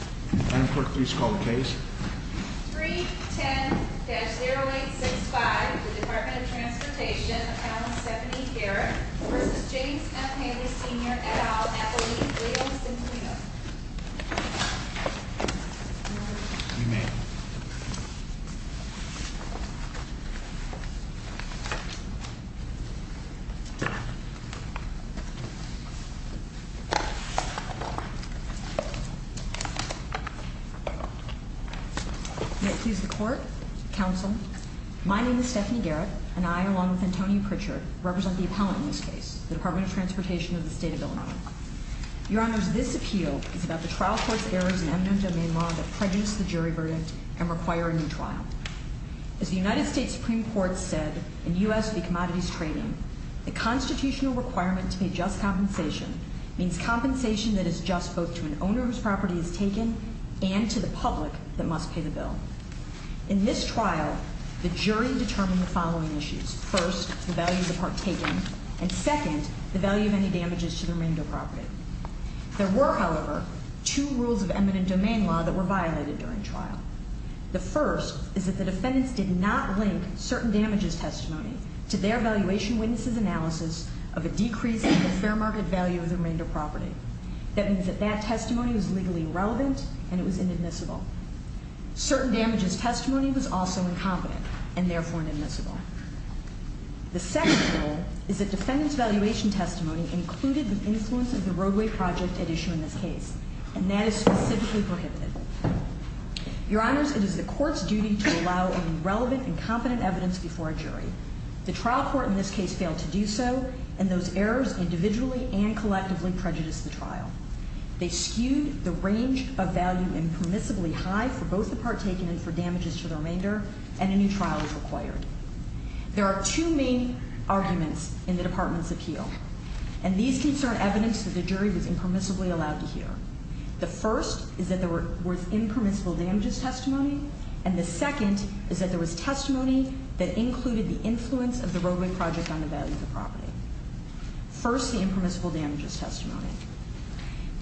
310-0865, the Department of Transportation, Accountant Stephanie Garrett v. James F. Haley Sr. et al. at the Lee, Williams, and Cleveland. May it please the Court, Counsel. My name is Stephanie Garrett, and I, along with Antonio Pritchard, represent the appellant in this case, the Department of Transportation of the State of Illinois. Your Honor, this appeal is about the trial court's errors in M. No. Domain law that prejudice the jury verdict and require a new trial. As the United States Supreme Court said in U.S. v. Commodities Trading, the constitutional requirement to pay just compensation means compensation that is just both to an owner whose property is taken and to the public that must pay the bill. In this trial, the jury determined the following issues. First, the value of the part taken, and second, the value of any damages to the remainder property. There were, however, two rules of M. No. Domain law that were violated during trial. The first is that the defendants did not link certain damages testimony to their valuation witnesses' analysis of a decrease in the fair market value of the remainder property. That means that that testimony was legally irrelevant, and it was inadmissible. Certain damages testimony was also incompetent, and therefore inadmissible. The second rule is that defendants' valuation testimony included the influence of the roadway project at issue in this case, and that is specifically prohibited. Your Honors, it is the court's duty to allow any relevant and competent evidence before a jury. The trial court in this case failed to do so, and those errors individually and collectively prejudiced the trial. They skewed the range of value impermissibly high for both the part taken and for damages to the remainder, and a new trial is required. There are two main arguments in the Department's appeal, and these concern evidence that the jury was impermissibly allowed to hear. The first is that there was impermissible damages testimony, and the second is that there was testimony that included the influence of the roadway project on the value of the property. First, the impermissible damages testimony.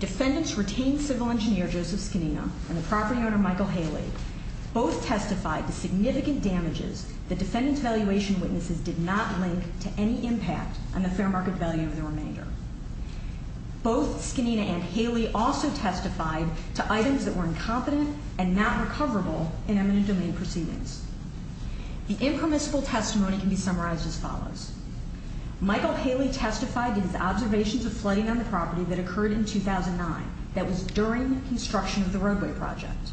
Defendants' retained civil engineer, Joseph Scanina, and the property owner, Michael Haley, both testified to significant damages that defendants' valuation witnesses did not link to any impact on the fair market value of the remainder. Both Scanina and Haley also testified to items that were incompetent and not recoverable in eminent domain proceedings. The impermissible testimony can be summarized as follows. Michael Haley testified in his observations of flooding on the property that occurred in 2009 that was during construction of the roadway project.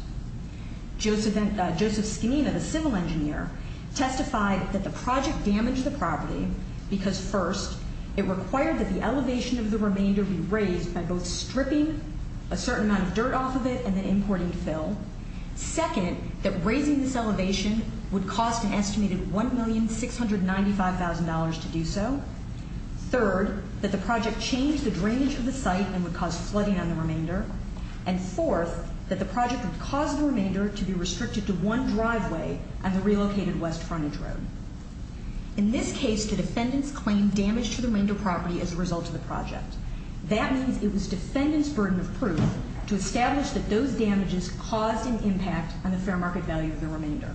Joseph Scanina, the civil engineer, testified that the project damaged the property because, first, it required that the elevation of the remainder be raised by both stripping a certain amount of dirt off of it and then importing fill. Second, that raising this elevation would cost an estimated $1,695,000 to do so. Third, that the project changed the drainage of the site and would cause flooding on the remainder. And fourth, that the project would cause the remainder to be restricted to one driveway on the relocated West Frontage Road. In this case, the defendants claimed damage to the remainder property as a result of the project. That means it was defendants' burden of proof to establish that those damages caused an impact on the fair market value of the remainder.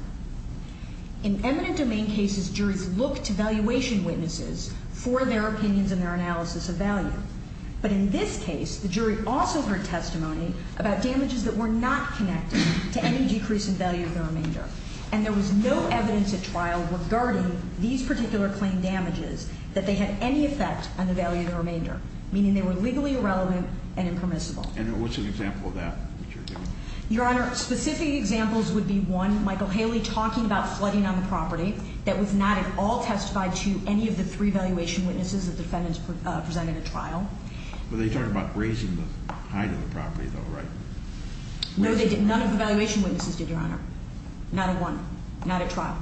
In eminent domain cases, juries looked to valuation witnesses for their opinions and their analysis of value. But in this case, the jury also heard testimony about damages that were not connected to any decrease in value of the remainder. And there was no evidence at trial regarding these particular claim damages that they had any effect on the value of the remainder. Meaning they were legally irrelevant and impermissible. And what's an example of that? Your Honor, specific examples would be, one, Michael Haley talking about flooding on the property. That was not at all testified to any of the three valuation witnesses that defendants presented at trial. But they talked about raising the height of the property, though, right? No, none of the valuation witnesses did, Your Honor. Not at one. Not at trial.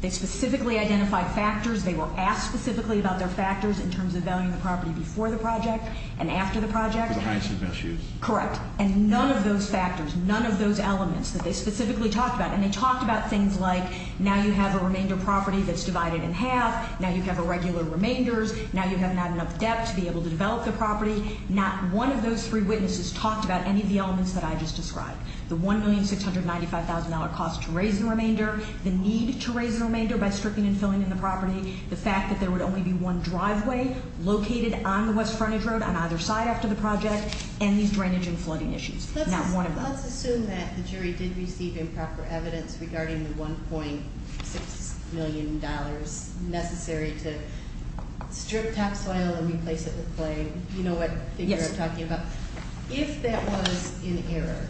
They specifically identified factors. They were asked specifically about their factors in terms of valuing the property before the project and after the project. The heights of issues. Correct. And none of those factors, none of those elements that they specifically talked about. And they talked about things like, now you have a remainder property that's divided in half. Now you have irregular remainders. Now you have not enough depth to be able to develop the property. Not one of those three witnesses talked about any of the elements that I just described. The $1,695,000 cost to raise the remainder. The need to raise the remainder by stripping and filling in the property. The fact that there would only be one driveway located on the west frontage road on either side after the project. And these drainage and flooding issues. Not one of them. Let's assume that the jury did receive improper evidence regarding the $1.6 million necessary to strip topsoil and replace it with clay. You know what figure I'm talking about? Yes. If that was in error,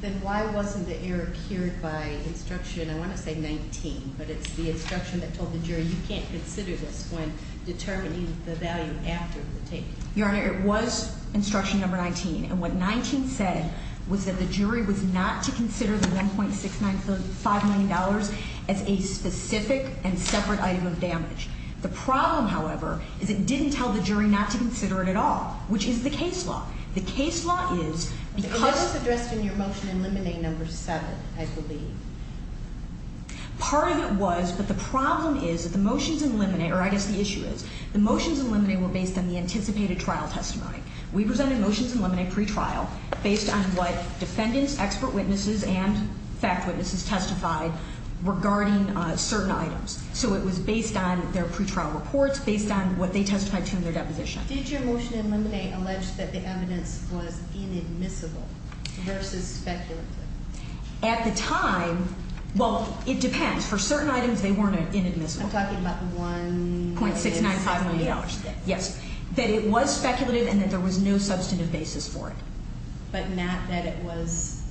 then why wasn't the error cured by instruction, I want to say 19. But it's the instruction that told the jury you can't consider this when determining the value after the tape. Your Honor, it was instruction number 19. And what 19 said was that the jury was not to consider the $1,695,000 as a specific and separate item of damage. The problem, however, is it didn't tell the jury not to consider it at all, which is the case law. The case law is because- And that was addressed in your motion in limine number seven, I believe. Part of it was, but the problem is that the motions in limine, or I guess the issue is, the motions in limine were based on the anticipated trial testimony. We presented motions in limine pretrial based on what defendants, expert witnesses, and fact witnesses testified regarding certain items. So it was based on their pretrial reports, based on what they testified to in their deposition. Did your motion in limine allege that the evidence was inadmissible versus speculative? At the time, well, it depends. For certain items, they weren't inadmissible. I'm talking about the $1,695,000. Yes, that it was speculative and that there was no substantive basis for it. But not that it was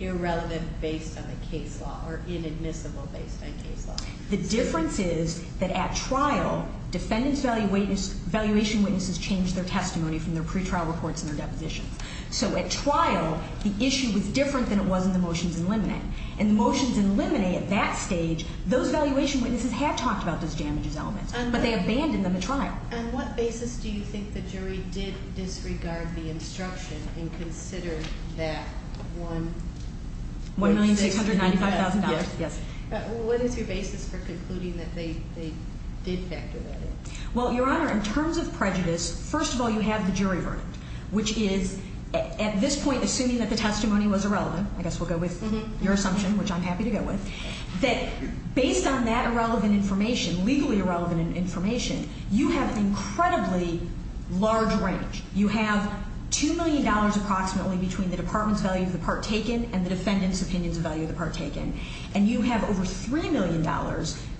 irrelevant based on the case law or inadmissible based on case law? The difference is that at trial, defendants' valuation witnesses changed their testimony from their pretrial reports and their depositions. So at trial, the issue was different than it was in the motions in limine. And the motions in limine at that stage, those valuation witnesses had talked about those damages elements, but they abandoned them at trial. On what basis do you think the jury did disregard the instruction and considered that $1,695,000? Yes. What is your basis for concluding that they did factor that in? Well, Your Honor, in terms of prejudice, first of all, you have the jury verdict, which is at this point, assuming that the testimony was irrelevant, I guess we'll go with your assumption, which I'm happy to go with, that based on that irrelevant information, legally irrelevant information, you have an incredibly large range. You have $2 million approximately between the department's value of the part taken and the defendant's opinion's value of the part taken. And you have over $3 million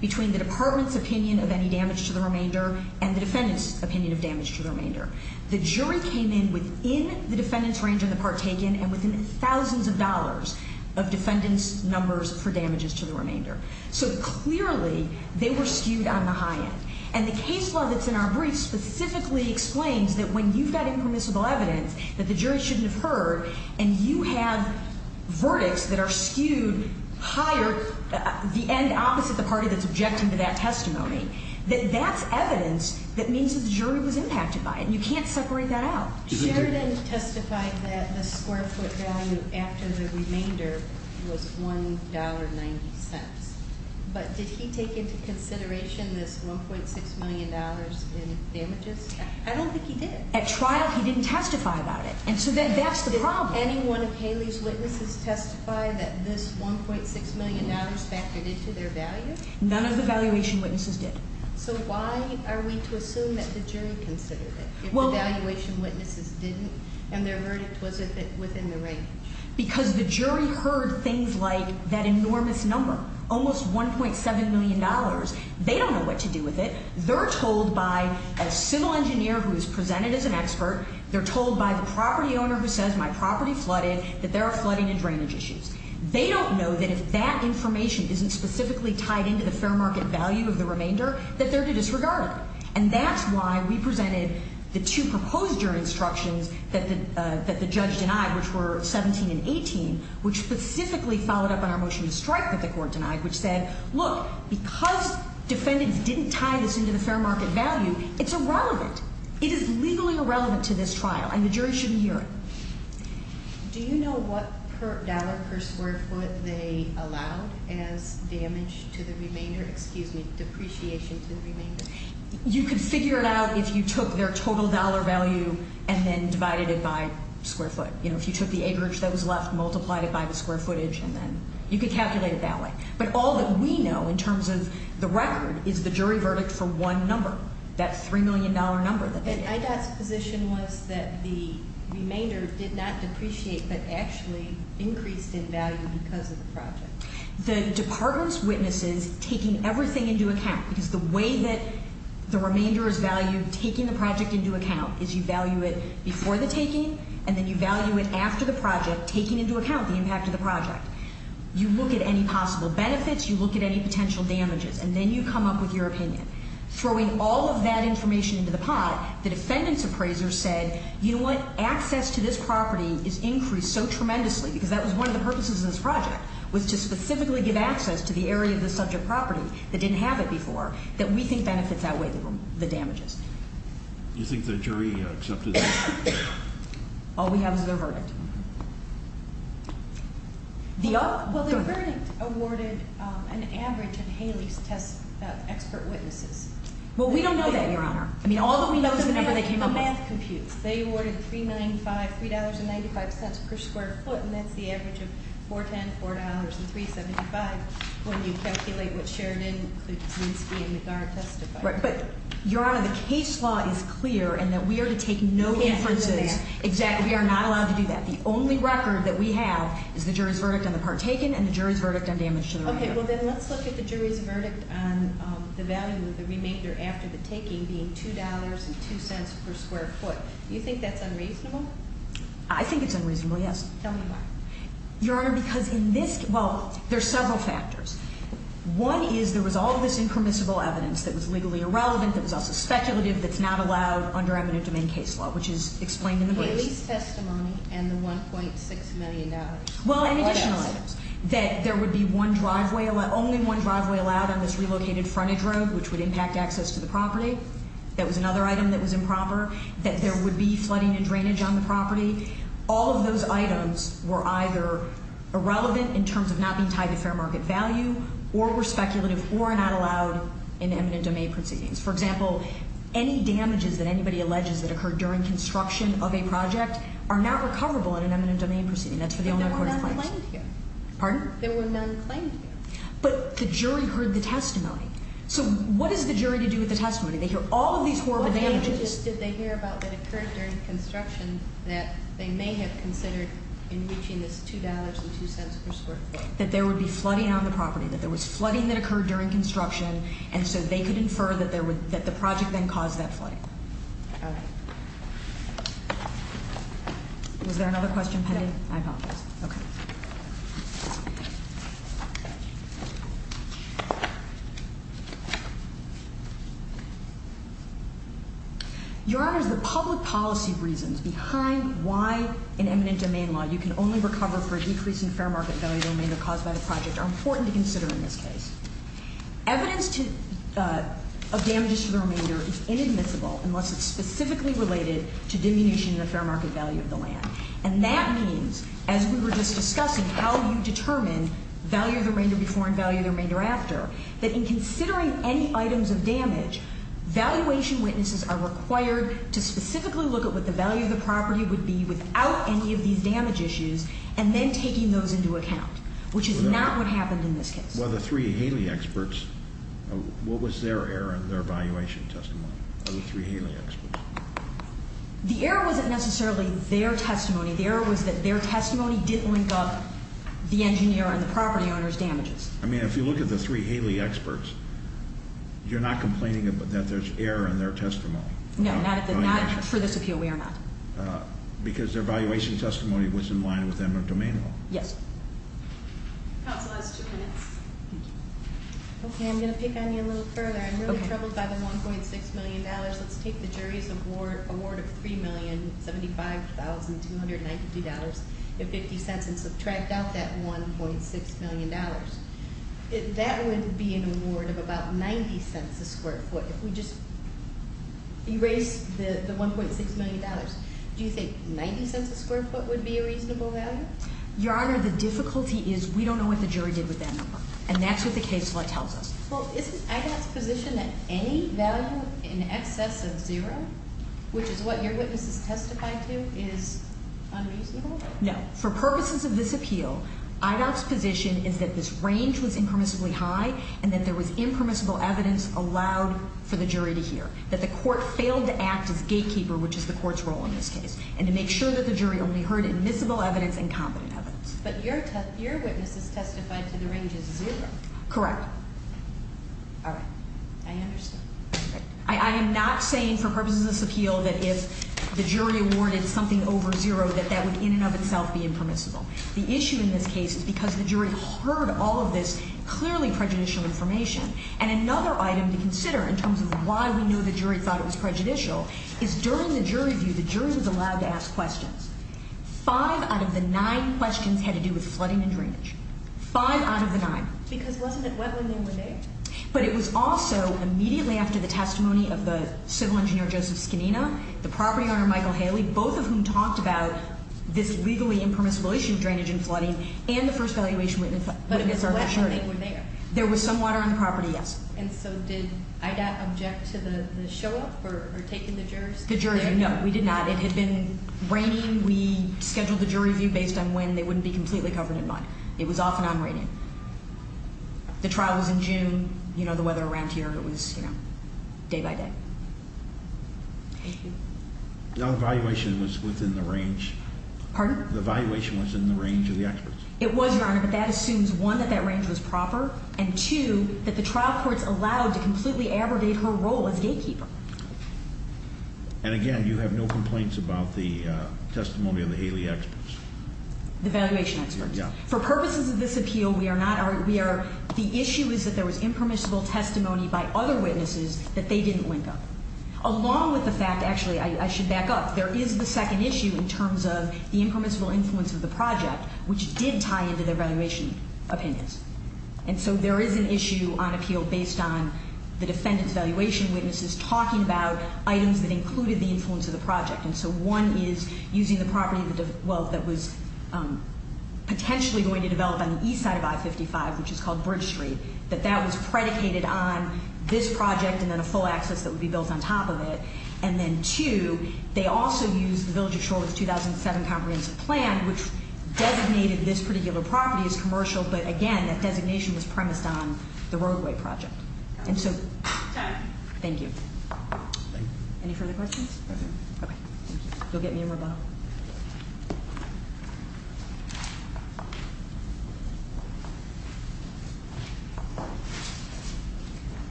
between the department's opinion of any damage to the remainder and the defendant's opinion of damage to the remainder. The jury came in within the defendant's range on the part taken and within thousands of dollars of defendant's numbers for damages to the remainder. So clearly, they were skewed on the high end. And the case law that's in our brief specifically explains that when you've got impermissible evidence that the jury shouldn't have heard and you have verdicts that are skewed higher, the end opposite the party that's objecting to that testimony, that that's evidence that means that the jury was impacted by it, and you can't separate that out. Sheridan testified that the square foot value after the remainder was $1.90. But did he take into consideration this $1.6 million in damages? I don't think he did. At trial, he didn't testify about it. And so that's the problem. Did anyone of Haley's witnesses testify that this $1.6 million factored into their value? None of the valuation witnesses did. So why are we to assume that the jury considered it if the valuation witnesses didn't and their verdict wasn't within the range? Because the jury heard things like that enormous number, almost $1.7 million. They don't know what to do with it. They're told by a civil engineer who is presented as an expert, they're told by the property owner who says, my property flooded, that there are flooding and drainage issues. They don't know that if that information isn't specifically tied into the fair market value of the remainder, that they're to disregard it. And that's why we presented the two proposed jury instructions that the judge denied, which were 17 and 18, which specifically followed up on our motion to strike that the court denied, which said, look, because defendants didn't tie this into the fair market value, it's irrelevant. It is legally irrelevant to this trial, and the jury shouldn't hear it. Do you know what dollar per square foot they allowed as damage to the remainder, excuse me, depreciation to the remainder? You could figure it out if you took their total dollar value and then divided it by square foot. If you took the acreage that was left, multiplied it by the square footage, and then you could calculate it that way. But all that we know, in terms of the record, is the jury verdict for one number, that $3 million number. And IDOT's position was that the remainder did not depreciate, but actually increased in value because of the project. The department's witness is taking everything into account, because the way that the remainder is valued, taking the project into account, is you value it before the taking, and then you value it after the project, taking into account the impact of the project. You look at any possible benefits, you look at any potential damages, and then you come up with your opinion. Throwing all of that information into the pot, the defendant's appraiser said, you know what, access to this property is increased so tremendously, because that was one of the purposes of this project, was to specifically give access to the area of the subject property that didn't have it before, that we think benefits that way, the damages. Do you think the jury accepted that? All we have is their verdict. Well, the verdict awarded an average in Haley's test expert witnesses. Well, we don't know that, Your Honor. I mean, all that we know is the number they came up with. The math computes. They awarded $3.95 per square foot, and that's the average of $4.10, $4.00, and $3.75, when you calculate what Sheridan, Klusinski, and McGarrett testified. Right, but, Your Honor, the case law is clear in that we are to take no inferences. Exactly. We are not allowed to do that. The only record that we have is the jury's verdict on the part taken and the jury's verdict on damage to the property. Okay. Well, then let's look at the jury's verdict on the value of the remainder after the taking, being $2.02 per square foot. Do you think that's unreasonable? I think it's unreasonable, yes. Tell me why. Your Honor, because in this, well, there's several factors. One is there was all of this impermissible evidence that was legally irrelevant, that was also speculative, that's not allowed under eminent domain case law, which is explained in the briefs. The lease testimony and the $1.6 million. Well, and additional items, that there would be only one driveway allowed on this relocated frontage road, which would impact access to the property, that was another item that was improper, that there would be flooding and drainage on the property. All of those items were either irrelevant in terms of not being tied to fair market value or were speculative or not allowed in eminent domain proceedings. For example, any damages that anybody alleges that occurred during construction of a project are not recoverable in an eminent domain proceeding. That's for the Illinois Court of Claims. But there were none claimed here. Pardon? There were none claimed here. But the jury heard the testimony. So what is the jury to do with the testimony? They hear all of these horrible damages. What damages did they hear about that occurred during construction that they may have considered in reaching this $2.02 per square foot? That there would be flooding on the property, that there was flooding that occurred during construction, and so they could infer that the project then caused that flooding. All right. Was there another question pending? No. I apologize. Okay. Your Honors, the public policy reasons behind why in eminent domain law you can only recover for a decrease in fair market value of the remainder caused by the project are important to consider in this case. Evidence of damages to the remainder is inadmissible unless it's specifically related to diminution in the fair market value of the land. And that means, as we were just discussing, how you determine value of the remainder before and value of the remainder after, that in considering any items of damage, valuation witnesses are required to specifically look at what the value of the property would be without any of these damage issues and then taking those into account, which is not what happened in this case. Well, the three Haley experts, what was their error in their valuation testimony, of the three Haley experts? The error wasn't necessarily their testimony. The error was that their testimony didn't link up the engineer and the property owner's damages. I mean, if you look at the three Haley experts, you're not complaining that there's error in their testimony. No, not for this appeal, we are not. Because their valuation testimony was in line with eminent domain law. Yes. Counsel has two minutes. Okay, I'm going to pick on you a little further. I'm really troubled by the $1.6 million. Let's take the jury's award of $3,075,292.50 and subtract out that $1.6 million. That would be an award of about $0.90 a square foot. If we just erase the $1.6 million, do you think $0.90 a square foot would be a reasonable value? Your Honor, the difficulty is we don't know what the jury did with that number, and that's what the case law tells us. Well, isn't IDOT's position that any value in excess of zero, which is what your witness has testified to, is unreasonable? No. For purposes of this appeal, IDOT's position is that this range was impermissibly high and that there was impermissible evidence allowed for the jury to hear, that the court failed to act as gatekeeper, which is the court's role in this case, and to make sure that the jury only heard admissible evidence and competent evidence. But your witness has testified to the range of zero. Correct. All right. I understand. I am not saying for purposes of this appeal that if the jury awarded something over zero that that would in and of itself be impermissible. The issue in this case is because the jury heard all of this clearly prejudicial information, and another item to consider in terms of why we know the jury thought it was prejudicial is during the jury view, the jury was allowed to ask questions. Five out of the nine questions had to do with flooding and drainage. Five out of the nine. Because wasn't it wet when they were there? But it was also immediately after the testimony of the civil engineer Joseph Scanina, the property owner Michael Haley, both of whom talked about this legally impermissible issue of drainage and flooding, and the first valuation witnessed by the jury. But it was wet when they were there. There was some water on the property, yes. And so did IDOT object to the show-up or taking the jurors? The jurors, no. We did not. We scheduled the jury view based on when they wouldn't be completely covered in mud. It was off and on raining. The trial was in June. You know, the weather around here, it was, you know, day by day. Now the valuation was within the range. Pardon? The valuation was in the range of the experts. It was, Your Honor, but that assumes, one, that that range was proper, and two, that the trial courts allowed to completely abrogate her role as gatekeeper. And again, you have no complaints about the testimony of the Haley experts? The valuation experts. For purposes of this appeal, we are not, we are, the issue is that there was impermissible testimony by other witnesses that they didn't link up. Along with the fact, actually, I should back up, there is the second issue in terms of the impermissible influence of the project, which did tie into their valuation opinions. And so there is an issue on appeal based on the defendant's valuation witnesses talking about items that included the influence of the project. And so one is using the property, well, that was potentially going to develop on the east side of I-55, which is called Bridge Street, that that was predicated on this project and then a full access that would be built on top of it. And then two, they also used the Village of Shorewood's 2007 comprehensive plan, which designated this particular property as commercial, but again, that designation was premised on the roadway project. And so, thank you. Any further questions? Thank you. You'll get me a ribbon.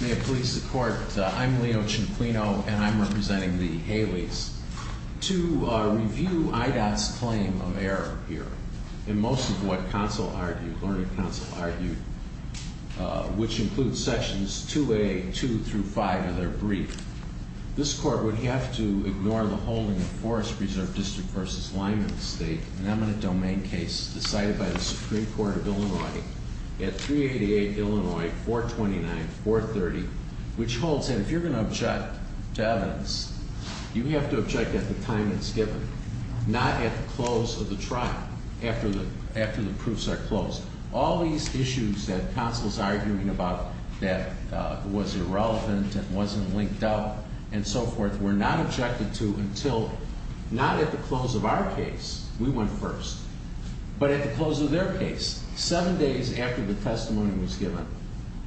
May it please the court. I'm Leo Cianquino and I'm representing the Haley's. To review IDOT's claim of error here, in most of what counsel argued, learning counsel argued, which includes sections 2A, 2 through 5 of their brief, this court would have to ignore the holding of Forest Preserve District v. Lyman State, an eminent domain case decided by the Supreme Court of Illinois at 388 Illinois 429, 430, which holds that if you're going to object to evidence, you have to object at the time it's given, not at the close of the trial, after the proofs are closed. All these issues that counsel's arguing about that was irrelevant and wasn't linked up and so forth, were not objected to until, not at the close of our case, we went first, but at the close of their case, seven days after the testimony was given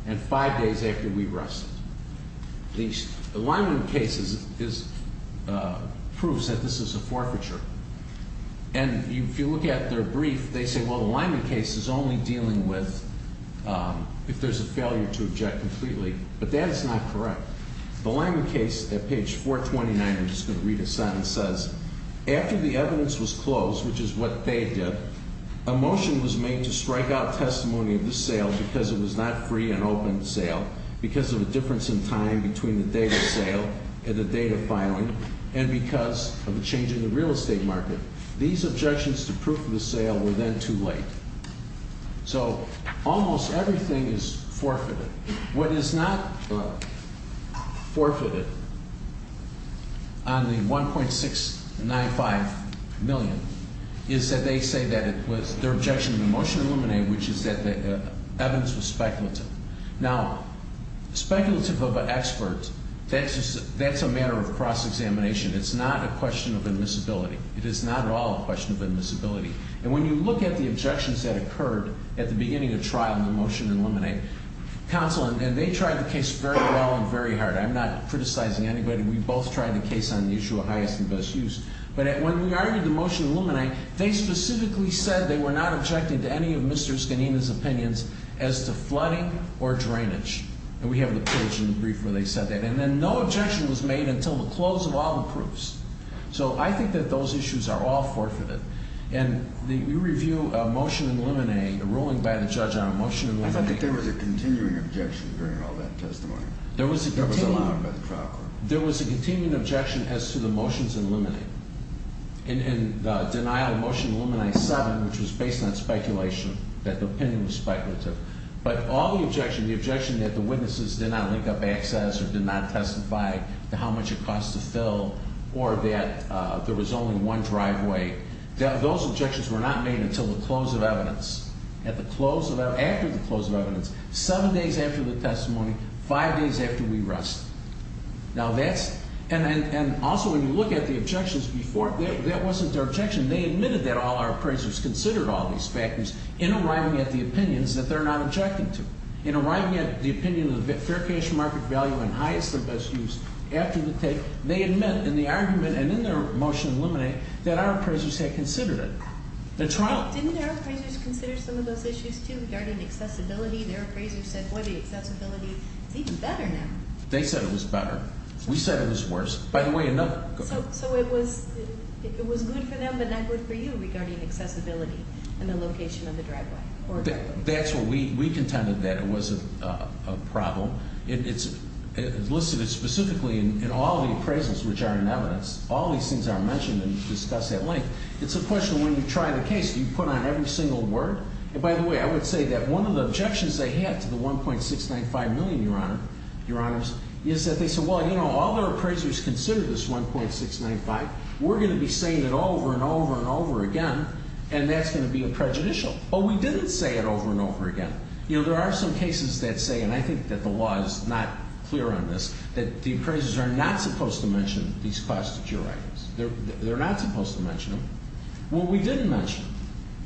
and five days after we wrestled. The Lyman case proves that this is a forfeiture. And if you look at their brief, they say, well, the Lyman case is only dealing with if there's a failure to object completely, but that is not correct. The Lyman case at page 429, I'm just going to read this out, it says, after the evidence was closed, which is what they did, a motion was made to strike out testimony of the sale because it was not free and open sale, because of a difference in time between the date of sale and the date of filing, and because of a change in the real estate market. These objections to proof of the sale were then too late. So almost everything is forfeited. What is not forfeited on the 1.695 million is that they say that it was, their objection to the motion eliminated, which is that the evidence was speculative. Now, speculative of an expert, that's a matter of cross-examination. It's not a question of admissibility. It is not at all a question of admissibility. And when you look at the objections that occurred at the beginning of trial in the motion eliminate, counsel, and they tried the case very well and very hard. I'm not criticizing anybody. We both tried the case on the issue of highest and best use. But when we argued the motion eliminate, they specifically said they were not objecting to any of Mr. Scanina's opinions as to flooding or drainage. And we have the page in the brief where they said that. And then no objection was made until the close of all the proofs. So I think that those issues are all forfeited. And you review a motion eliminate, a ruling by the judge on a motion eliminate. I thought that there was a continuing objection during all that testimony. There was a continuing. That was allowed by the trial court. There was a continuing objection as to the motions eliminate. And the denial of motion eliminate seven, which was based on speculation, that the opinion was speculative. But all the objection, the objection that the witnesses did not link up access or did not testify to how much it cost to fill or that there was only one driveway, those objections were not made until the close of evidence. At the close of evidence, after the close of evidence, seven days after the testimony, five days after we rest. Now that's, and also when you look at the objections before, that wasn't their objection. They admitted that all our appraisers considered all these factors in arriving at the opinions that they're not objecting to. In arriving at the opinion of fair cash market value and highest and best use after the tape, they admit in the argument and in their motion eliminate that our appraisers had considered it. The trial- Didn't their appraisers consider some of those issues too regarding accessibility? Their appraisers said, boy, the accessibility is even better now. They said it was better. We said it was worse. By the way, another- So it was good for them but not good for you regarding accessibility and the location of the driveway. That's what we contended that it was a problem. It's listed specifically in all the appraisals which are in evidence. All these things are mentioned and discussed at length. It's a question when you try the case, do you put on every single word? And by the way, I would say that one of the objections they had to the 1.695 million, Your Honor, Your Honors, is that they said, well, you know, all their appraisers considered this 1.695. We're going to be saying it over and over and over again and that's going to be a prejudicial. Well, we didn't say it over and over again. You know, there are some cases that say, and I think that the law is not clear on this, that the appraisers are not supposed to mention these class 2 juridicals. They're not supposed to mention them. Well, we didn't mention them.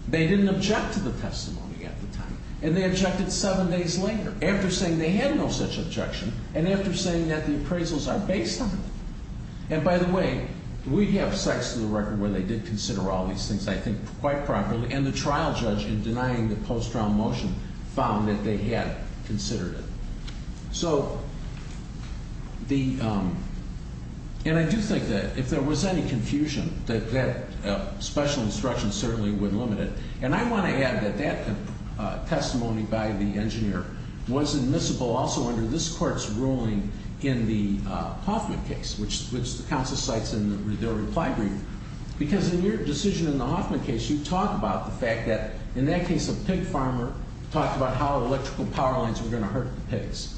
They didn't object to the testimony at the time and they objected seven days later after saying they had no such objection and after saying that the appraisals are based on them. And by the way, we have sites to the record where they did consider all these things, I think, quite properly and the trial judge in denying the post-trial motion found that they had considered it. So the... And I do think that if there was any confusion, that that special instruction certainly would limit it. And I want to add that that testimony by the engineer was admissible also under this court's ruling in the Hoffman case, which the counsel cites in their reply brief, because in your decision in the Hoffman case, you talk about the fact that, in that case, a pig farmer talked about how electrical power lines were going to hurt the pigs.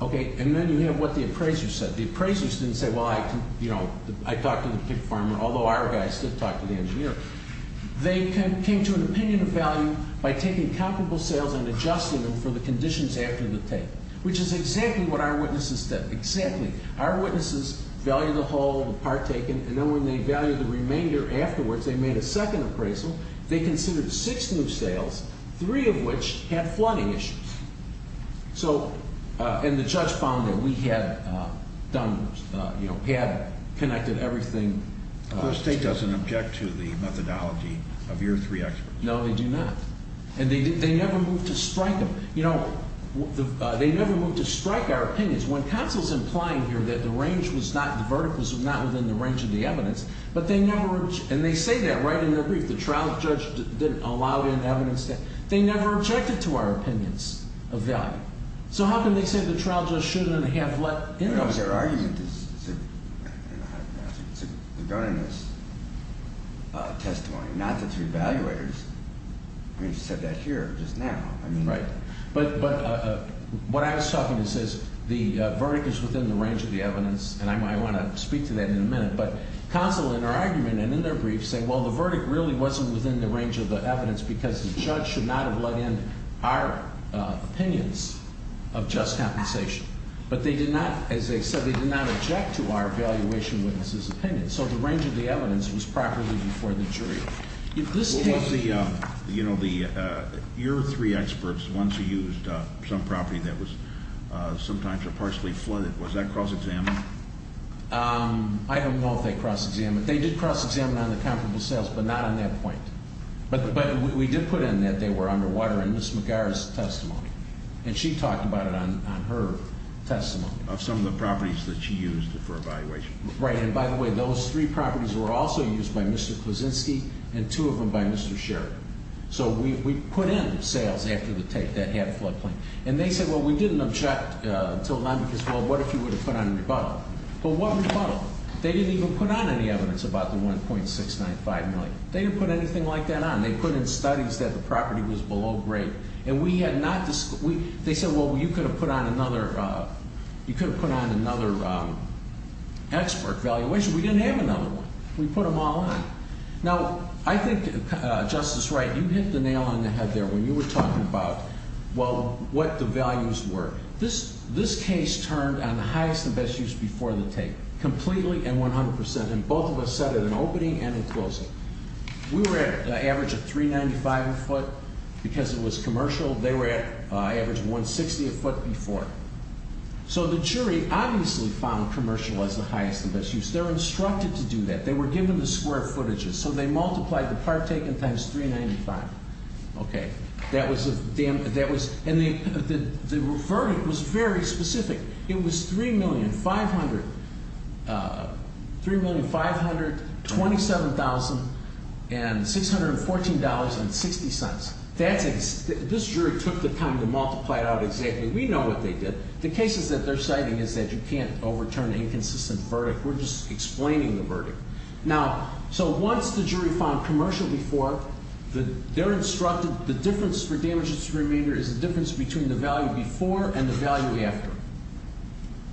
And then you have what the appraisers said. The appraisers didn't say, well, I talked to the pig farmer, although our guys did talk to the engineer. They came to an opinion of value by taking comparable sales and adjusting them for the conditions after the take, which is exactly what our witnesses did. Exactly. Our witnesses valued the whole, the part taken, and then when they valued the remainder afterwards, they made a second appraisal. They considered six new sales, three of which had flooding issues. So, and the judge found that we had done, you know, had connected everything. The state doesn't object to the methodology of your three experts. No, they do not. And they never moved to strike them. You know, they never moved to strike our opinions. When counsel's implying here that the range was not, the verdict was not within the range of the evidence, but they never, and they say that right in their brief, the trial judge didn't allow in evidence. They never objected to our opinions of value. So how can they say the trial judge shouldn't have let in evidence? You know, their argument is, they're running this testimony, not the three evaluators. I mean, she said that here just now. Right. But what I was talking to says the verdict is within the range of the evidence, and I want to speak to that in a minute, but counsel in their argument and in their brief say, well, the verdict really wasn't within the range of the evidence because the judge should not have let in our opinions of just compensation. But they did not, as they said, they did not object to our evaluation witness's opinion. So the range of the evidence was properly before the jury. If this case... Well, what's the, you know, the, your three experts, the ones who used some property that was sometimes or partially flooded, was that cross-examined? I don't know if they cross-examined. They did cross-examine on the comparable sales, but not on that point. But we did put in that they were underwater in Ms. McGar's testimony, and she talked about it on her testimony. Of some of the properties that she used for evaluation. Right. And by the way, those three properties were also used by Mr. Klusinski and two of them by Mr. Sheridan. So we put in sales after the tape that had floodplain. And they said, well, we didn't object to a line because, well, what if you would have put on a rebuttal? Well, what rebuttal? They didn't even put on any evidence about the $1.695 million. They didn't put anything like that on. They put in studies that the property was below grade. And we had not... They said, well, you could have put on another, you could have put on another expert valuation. We didn't have another one. We put them all on. Now, I think, Justice Wright, you hit the nail on the head there when you were talking about, well, what the values were. This case turned on highest and best use before the tape. Completely and 100%. And both of us said it in opening and in closing. We were at an average of $3.95 a foot because it was commercial. They were at an average of $1.60 a foot before. So the jury obviously found commercial as the highest and best use. They were instructed to do that. They were given the square footages. So they multiplied the part taken times $3.95. Okay. That was a... And the verdict was very specific. It was $3,527,614.60. This jury took the time to multiply it out exactly. We know what they did. The cases that they're citing is that you can't overturn inconsistent verdict. We're just explaining the verdict. Now, so once the jury found commercial before, they're instructed the difference for damages to remainder is the difference between the value before and the value after.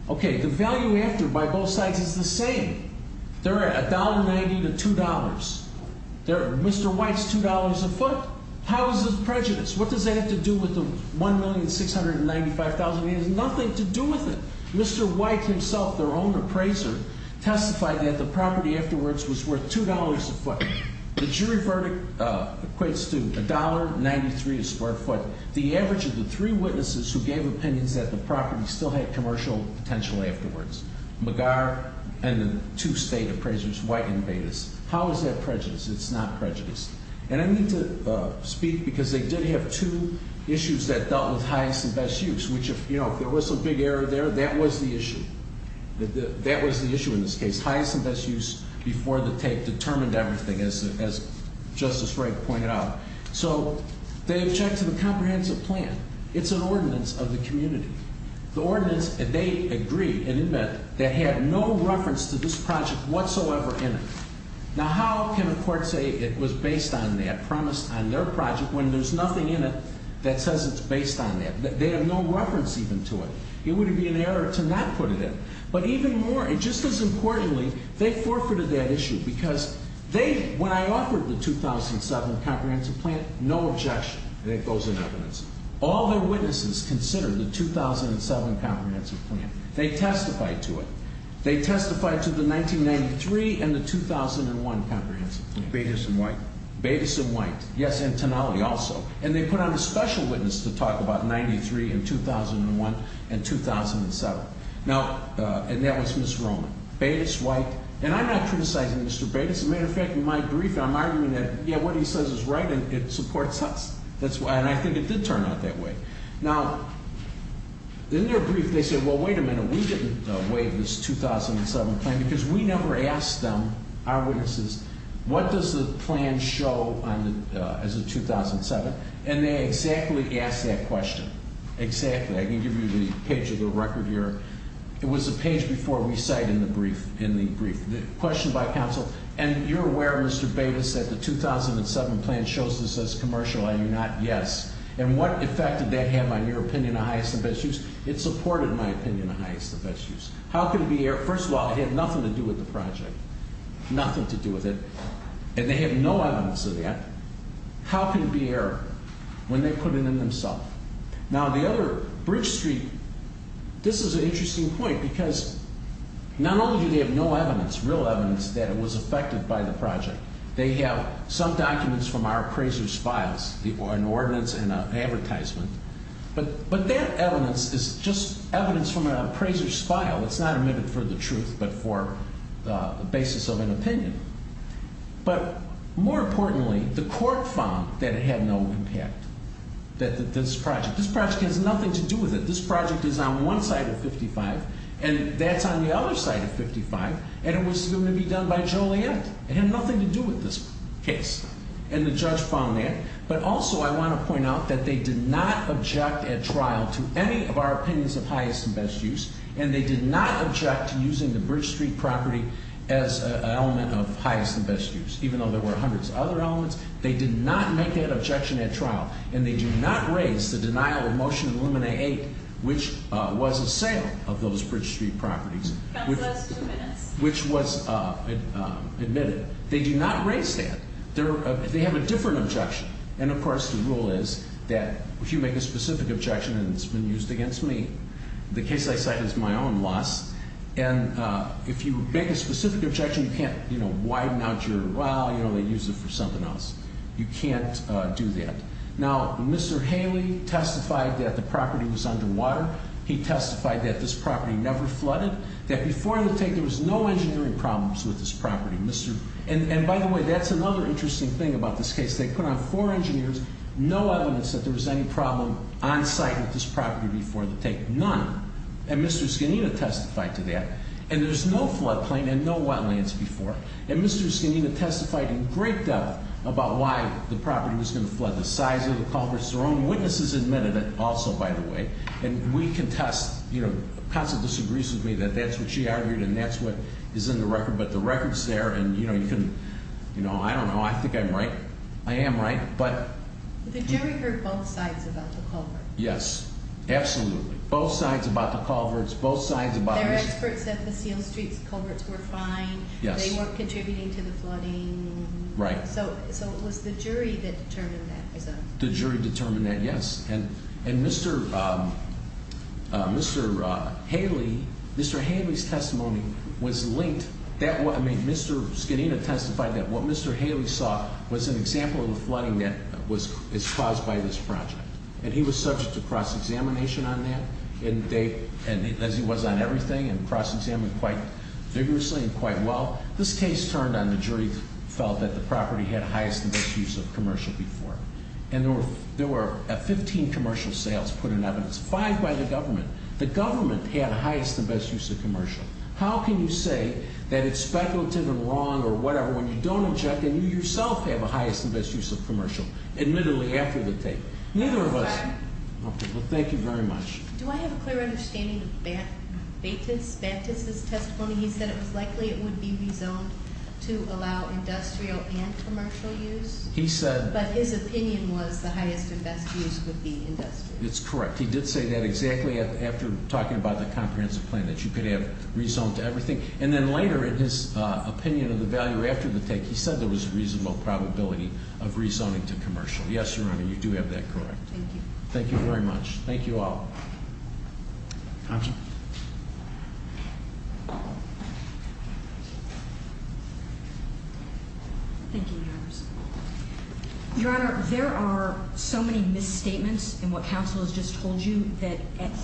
Okay. The value after by both sides is the same. They're at $1.90 to $2. Mr. White's $2 a foot. How is this prejudice? What does that have to do with the $1,695,000? It has nothing to do with it. Mr. White himself, their own appraiser, testified that the property afterwards was worth $2 a foot. The jury verdict equates to $1.93 a square foot. The average of the three witnesses who gave opinions that the property still had commercial potential afterwards, McGar and the two state appraisers, White and Bates. How is that prejudice? It's not prejudice. And I need to speak because they did have two issues that dealt with highest and best use, which if there was some big error there, that was the issue. That was the issue in this case. Highest and best use before the tape determined everything, as Justice Wright pointed out. So they objected to the comprehensive plan. It's an ordinance of the community. The ordinance, they agreed and invented, that had no reference to this project whatsoever in it. Now, how can a court say it was based on that, promised on their project, when there's nothing in it that says it's based on that? They have no reference even to it. It would be an error to not put it in. But even more, and just as importantly, they forfeited that issue because they, when I offered the 2007 comprehensive plan, no objection. And it goes in evidence. All their witnesses considered the 2007 comprehensive plan. They testified to it. They testified to the 1993 and the 2001 comprehensive plan. Bates and White. Bates and White. Yes, and Tonali also. And they put on a special witness to talk about 93 and 2001 and 2007. Now, and that was Ms. Roman. Bates, White. And I'm not criticizing Mr. Bates. As a matter of fact, in my brief, I'm arguing that, yeah, what he says is right and it supports us. And I think it did turn out that way. Now, in their brief, they said, well, wait a minute. We didn't waive this 2007 plan because we never asked them, our witnesses, what does the plan show as of 2007? And they exactly asked that question. Exactly. I can give you the page of the record here. It was the page before we cite in the brief. The question by counsel, and you're aware, Mr. Bates, that the 2007 plan shows this as commercial. Are you not? Yes. And what effect did that have on your opinion of highest and best use? It supported my opinion of highest and best use. How can it be error? First of all, it had nothing to do with the project. Nothing to do with it. And they have no evidence of that. How can it be error when they put it in themselves? Now, the other, Bridge Street, this is an interesting point, because not only do they have no evidence, real evidence, that it was affected by the project, they have some documents from our appraiser's files, an ordinance and an advertisement. But that evidence is just evidence from an appraiser's file. It's not omitted for the truth but for the basis of an opinion. But more importantly, the court found that it had no impact, that this project, this project has nothing to do with it. This project is on one side of 55, and that's on the other side of 55, and it was going to be done by Joliet. It had nothing to do with this case. And the judge found that. But also I want to point out that they did not object at trial to any of our opinions of highest and best use, and they did not object to using the Bridge Street property as an element of highest and best use, even though there were hundreds of other elements. They did not make that objection at trial, and they do not raise the denial of motion in Illumina 8, which was a sale of those Bridge Street properties, which was admitted. They do not raise that. They have a different objection. And, of course, the rule is that if you make a specific objection and it's been used against me, the case I cite is my own loss, and if you make a specific objection, you can't, you know, widen out your, well, you know, they use it for something else. You can't do that. Now, Mr. Haley testified that the property was underwater. He testified that this property never flooded, that before the tank there was no engineering problems with this property. And, by the way, that's another interesting thing about this case. They put on four engineers no evidence that there was any problem on site with this property before the tank, none. And Mr. Scanina testified to that. And there's no floodplain and no wetlands before. And Mr. Scanina testified in great depth about why the property was going to flood. The size of the culverts, their own witnesses admitted it also, by the way. And we contest, you know, Constance disagrees with me that that's what she argued and that's what is in the record. But the record's there, and, you know, you can, you know, I don't know. I think I'm right. I am right. But the jury heard both sides about the culverts. Yes, absolutely. Both sides about the culverts. Both sides about this. Their experts said the Seal Street culverts were fine. Yes. They weren't contributing to the flooding. Right. So it was the jury that determined that. The jury determined that, yes. And Mr. Haley, Mr. Haley's testimony was linked. I mean, Mr. Scanina testified that what Mr. Haley saw was an example of the flooding that was caused by this project. And he was subject to cross-examination on that, as he was on everything, and cross-examined quite vigorously and quite well. This case turned on the jury felt that the property had highest and best use of commercial before. And there were 15 commercial sales put in evidence, five by the government. The government had highest and best use of commercial. How can you say that it's speculative and wrong or whatever when you don't inject and you yourself have a highest and best use of commercial, admittedly, after the tape? Neither of us. Well, thank you very much. Do I have a clear understanding of Bates' testimony? He said it was likely it would be rezoned to allow industrial and commercial use. He said. But his opinion was the highest and best use would be industrial. It's correct. He did say that exactly after talking about the comprehensive plan, that you could have rezoned to everything. And then later in his opinion of the value after the tape, he said there was a reasonable probability of rezoning to commercial. Yes, Your Honor, you do have that correct. Thank you. Thank you very much. Thank you all. Counsel. Thank you, Your Honor. Your Honor, there are so many misstatements in what counsel has just told you that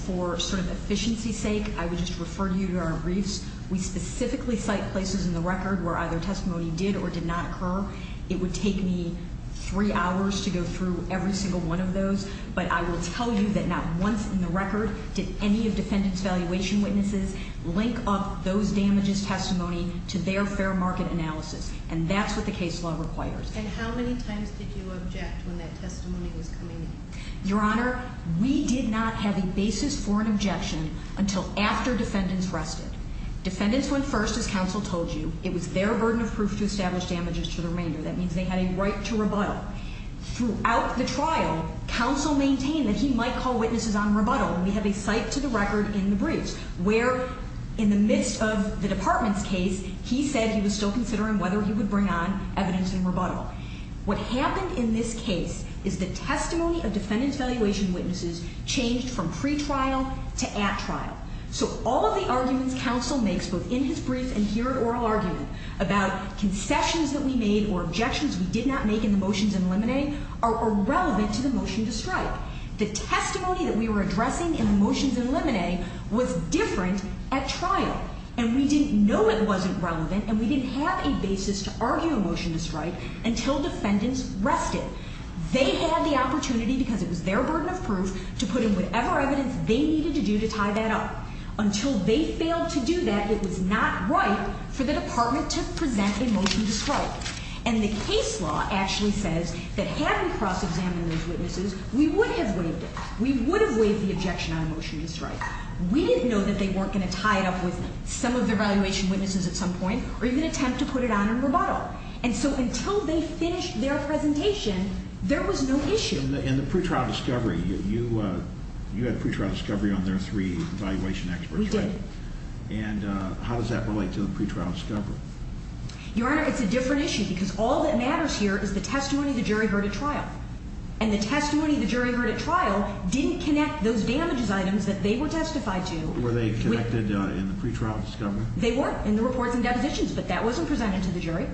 for sort of efficiency's sake, I would just refer you to our briefs. We specifically cite places in the record where either testimony did or did not occur. It would take me three hours to go through every single one of those. But I will tell you that not once in the record did any of defendant's valuation witnesses link up those damages testimony to their fair market analysis. And that's what the case law requires. And how many times did you object when that testimony was coming in? Your Honor, we did not have a basis for an objection until after defendants rested. Defendants went first, as counsel told you. It was their burden of proof to establish damages to the remainder. That means they had a right to rebuttal. Throughout the trial, counsel maintained that he might call witnesses on rebuttal. And we have a cite to the record in the briefs where in the midst of the department's case, he said he was still considering whether he would bring on evidence in rebuttal. What happened in this case is the testimony of defendant's valuation witnesses changed from pretrial to at trial. So all of the arguments counsel makes both in his brief and here at oral argument about concessions that we made or objections we did not make in the motions in limine are irrelevant to the motion to strike. The testimony that we were addressing in the motions in limine was different at trial. And we didn't know it wasn't relevant and we didn't have a basis to argue a motion to strike until defendants rested. They had the opportunity because it was their burden of proof to put in whatever evidence they needed to do to tie that up. Until they failed to do that, it was not right for the department to present a motion to strike. And the case law actually says that having cross-examined those witnesses, we would have waived it. We would have waived the objection on a motion to strike. We didn't know that they weren't going to tie it up with some of the valuation witnesses at some point or even attempt to put it on in rebuttal. And so until they finished their presentation, there was no issue. In the pretrial discovery, you had pretrial discovery on their three evaluation experts, right? We did. And how does that relate to the pretrial discovery? Your Honor, it's a different issue because all that matters here is the testimony the jury heard at trial. And the testimony the jury heard at trial didn't connect those damages items that they were testified to. Were they connected in the pretrial discovery? They were in the reports and depositions, but that wasn't presented to the jury.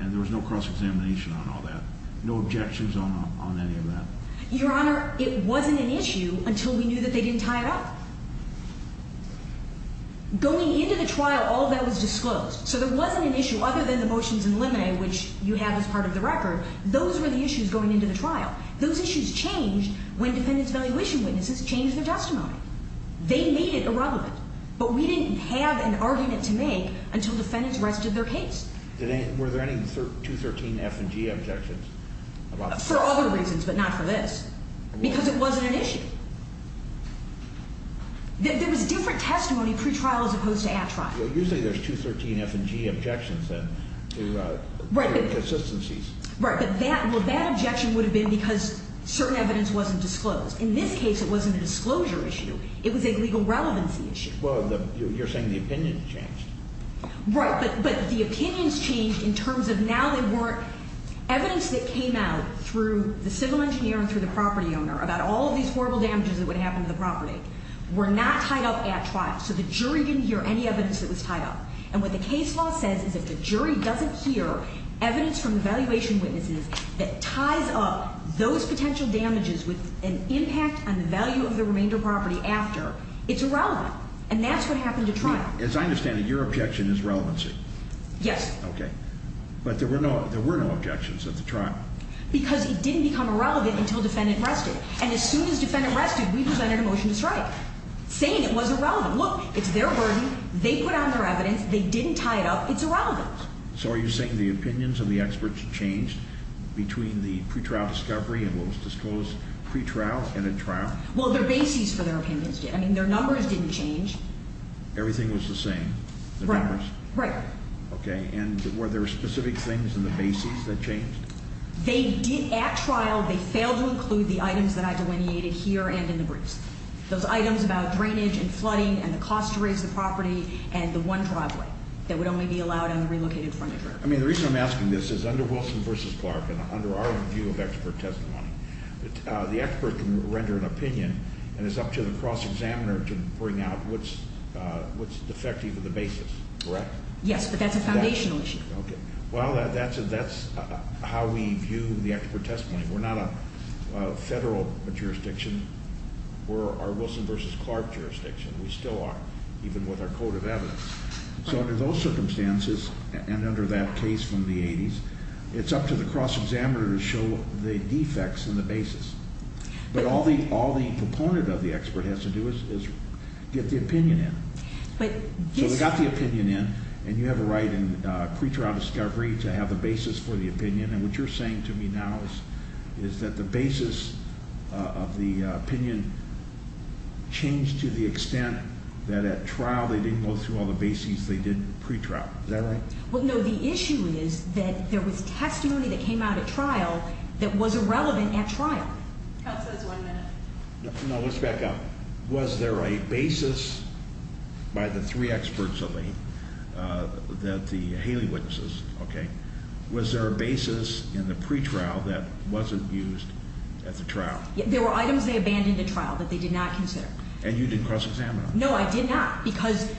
And there was no cross-examination on all that, no objections on any of that? Your Honor, it wasn't an issue until we knew that they didn't tie it up. Going into the trial, all of that was disclosed. So there wasn't an issue other than the motions in limine, which you have as part of the record. Those were the issues going into the trial. Those issues changed when defendants' valuation witnesses changed their testimony. They made it irrelevant, but we didn't have an argument to make until defendants rested their case. Were there any 213-F and G objections? For other reasons, but not for this, because it wasn't an issue. There was different testimony pretrial as opposed to at trial. Well, usually there's 213-F and G objections to inconsistencies. Right, but that objection would have been because certain evidence wasn't disclosed. In this case, it wasn't a disclosure issue. It was a legal relevancy issue. Well, you're saying the opinions changed. Right, but the opinions changed in terms of now there were evidence that came out through the civil engineer and through the property owner about all of these horrible damages that would happen to the property were not tied up at trial. So the jury didn't hear any evidence that was tied up. And what the case law says is if the jury doesn't hear evidence from the valuation witnesses that ties up those potential damages with an impact on the value of the remainder property after, it's irrelevant. And that's what happened at trial. As I understand it, your objection is relevancy. Yes. Okay. But there were no objections at the trial. Because it didn't become irrelevant until defendant rested. And as soon as defendant rested, we presented a motion to strike, saying it was irrelevant. Look, it's their burden. They put out their evidence. They didn't tie it up. It's irrelevant. So are you saying the opinions of the experts changed between the pretrial discovery and what was disclosed pretrial and at trial? Well, their bases for their opinions did. I mean, their numbers didn't change. Everything was the same, the numbers? Right. Right. Okay. And were there specific things in the bases that changed? They did at trial. They failed to include the items that I delineated here and in the briefs, those items about drainage and flooding and the cost to raise the property and the one driveway that would only be allowed on the relocated frontage road. I mean, the reason I'm asking this is under Wilson v. Clark and under our view of expert testimony, the expert can render an opinion and it's up to the cross-examiner to bring out what's defective of the bases, correct? Yes, but that's a foundational issue. Okay. Well, that's how we view the expert testimony. We're not a federal jurisdiction. We're our Wilson v. Clark jurisdiction. We still are, even with our code of evidence. So under those circumstances and under that case from the 80s, it's up to the cross-examiner to show the defects in the bases. But all the proponent of the expert has to do is get the opinion in. So they got the opinion in, and you have a right in pretrial discovery to have a basis for the opinion, and what you're saying to me now is that the basis of the opinion changed to the extent that at trial they didn't go through all the bases they did in pretrial. Is that right? Well, no. The issue is that there was testimony that came out at trial that was irrelevant at trial. Counsel, that's one minute. No, let's back up. Was there a basis by the three experts that the Haley witnesses, okay, was there a basis in the pretrial that wasn't used at the trial? There were items they abandoned at trial that they did not consider. And you didn't cross-examine them? No, I did not, because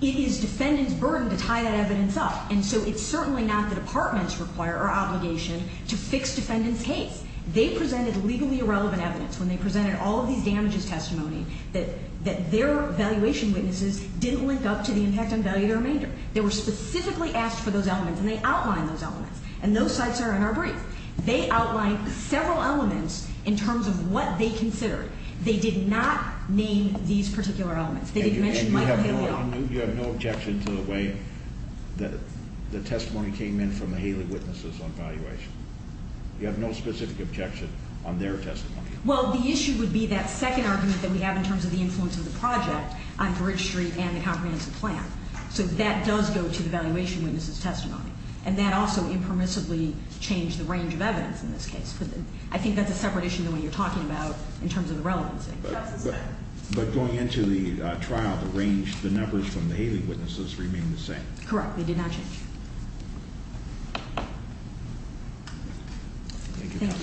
it is defendant's burden to tie that evidence up, and so it's certainly not the department's require or obligation to fix defendant's case. They presented legally irrelevant evidence when they presented all of these damages testimony that their evaluation witnesses didn't link up to the impact on value to remainder. They were specifically asked for those elements, and they outlined those elements, and those sites are in our brief. They outlined several elements in terms of what they considered. They did not name these particular elements. They did mention Michael Haley. And you have no objection to the way that the testimony came in from the Haley witnesses on valuation? You have no specific objection on their testimony? Well, the issue would be that second argument that we have in terms of the influence of the project on Bridge Street and the comprehensive plan. So that does go to the valuation witnesses' testimony. And that also impermissibly changed the range of evidence in this case. I think that's a separate issue than what you're talking about in terms of the relevancy. But going into the trial, the range, the numbers from the Haley witnesses remained the same? Correct. They did not change. Thank you, counsel. Thank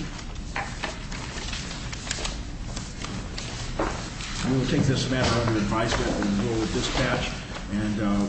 you. We will take this matter under advisory and go with dispatch.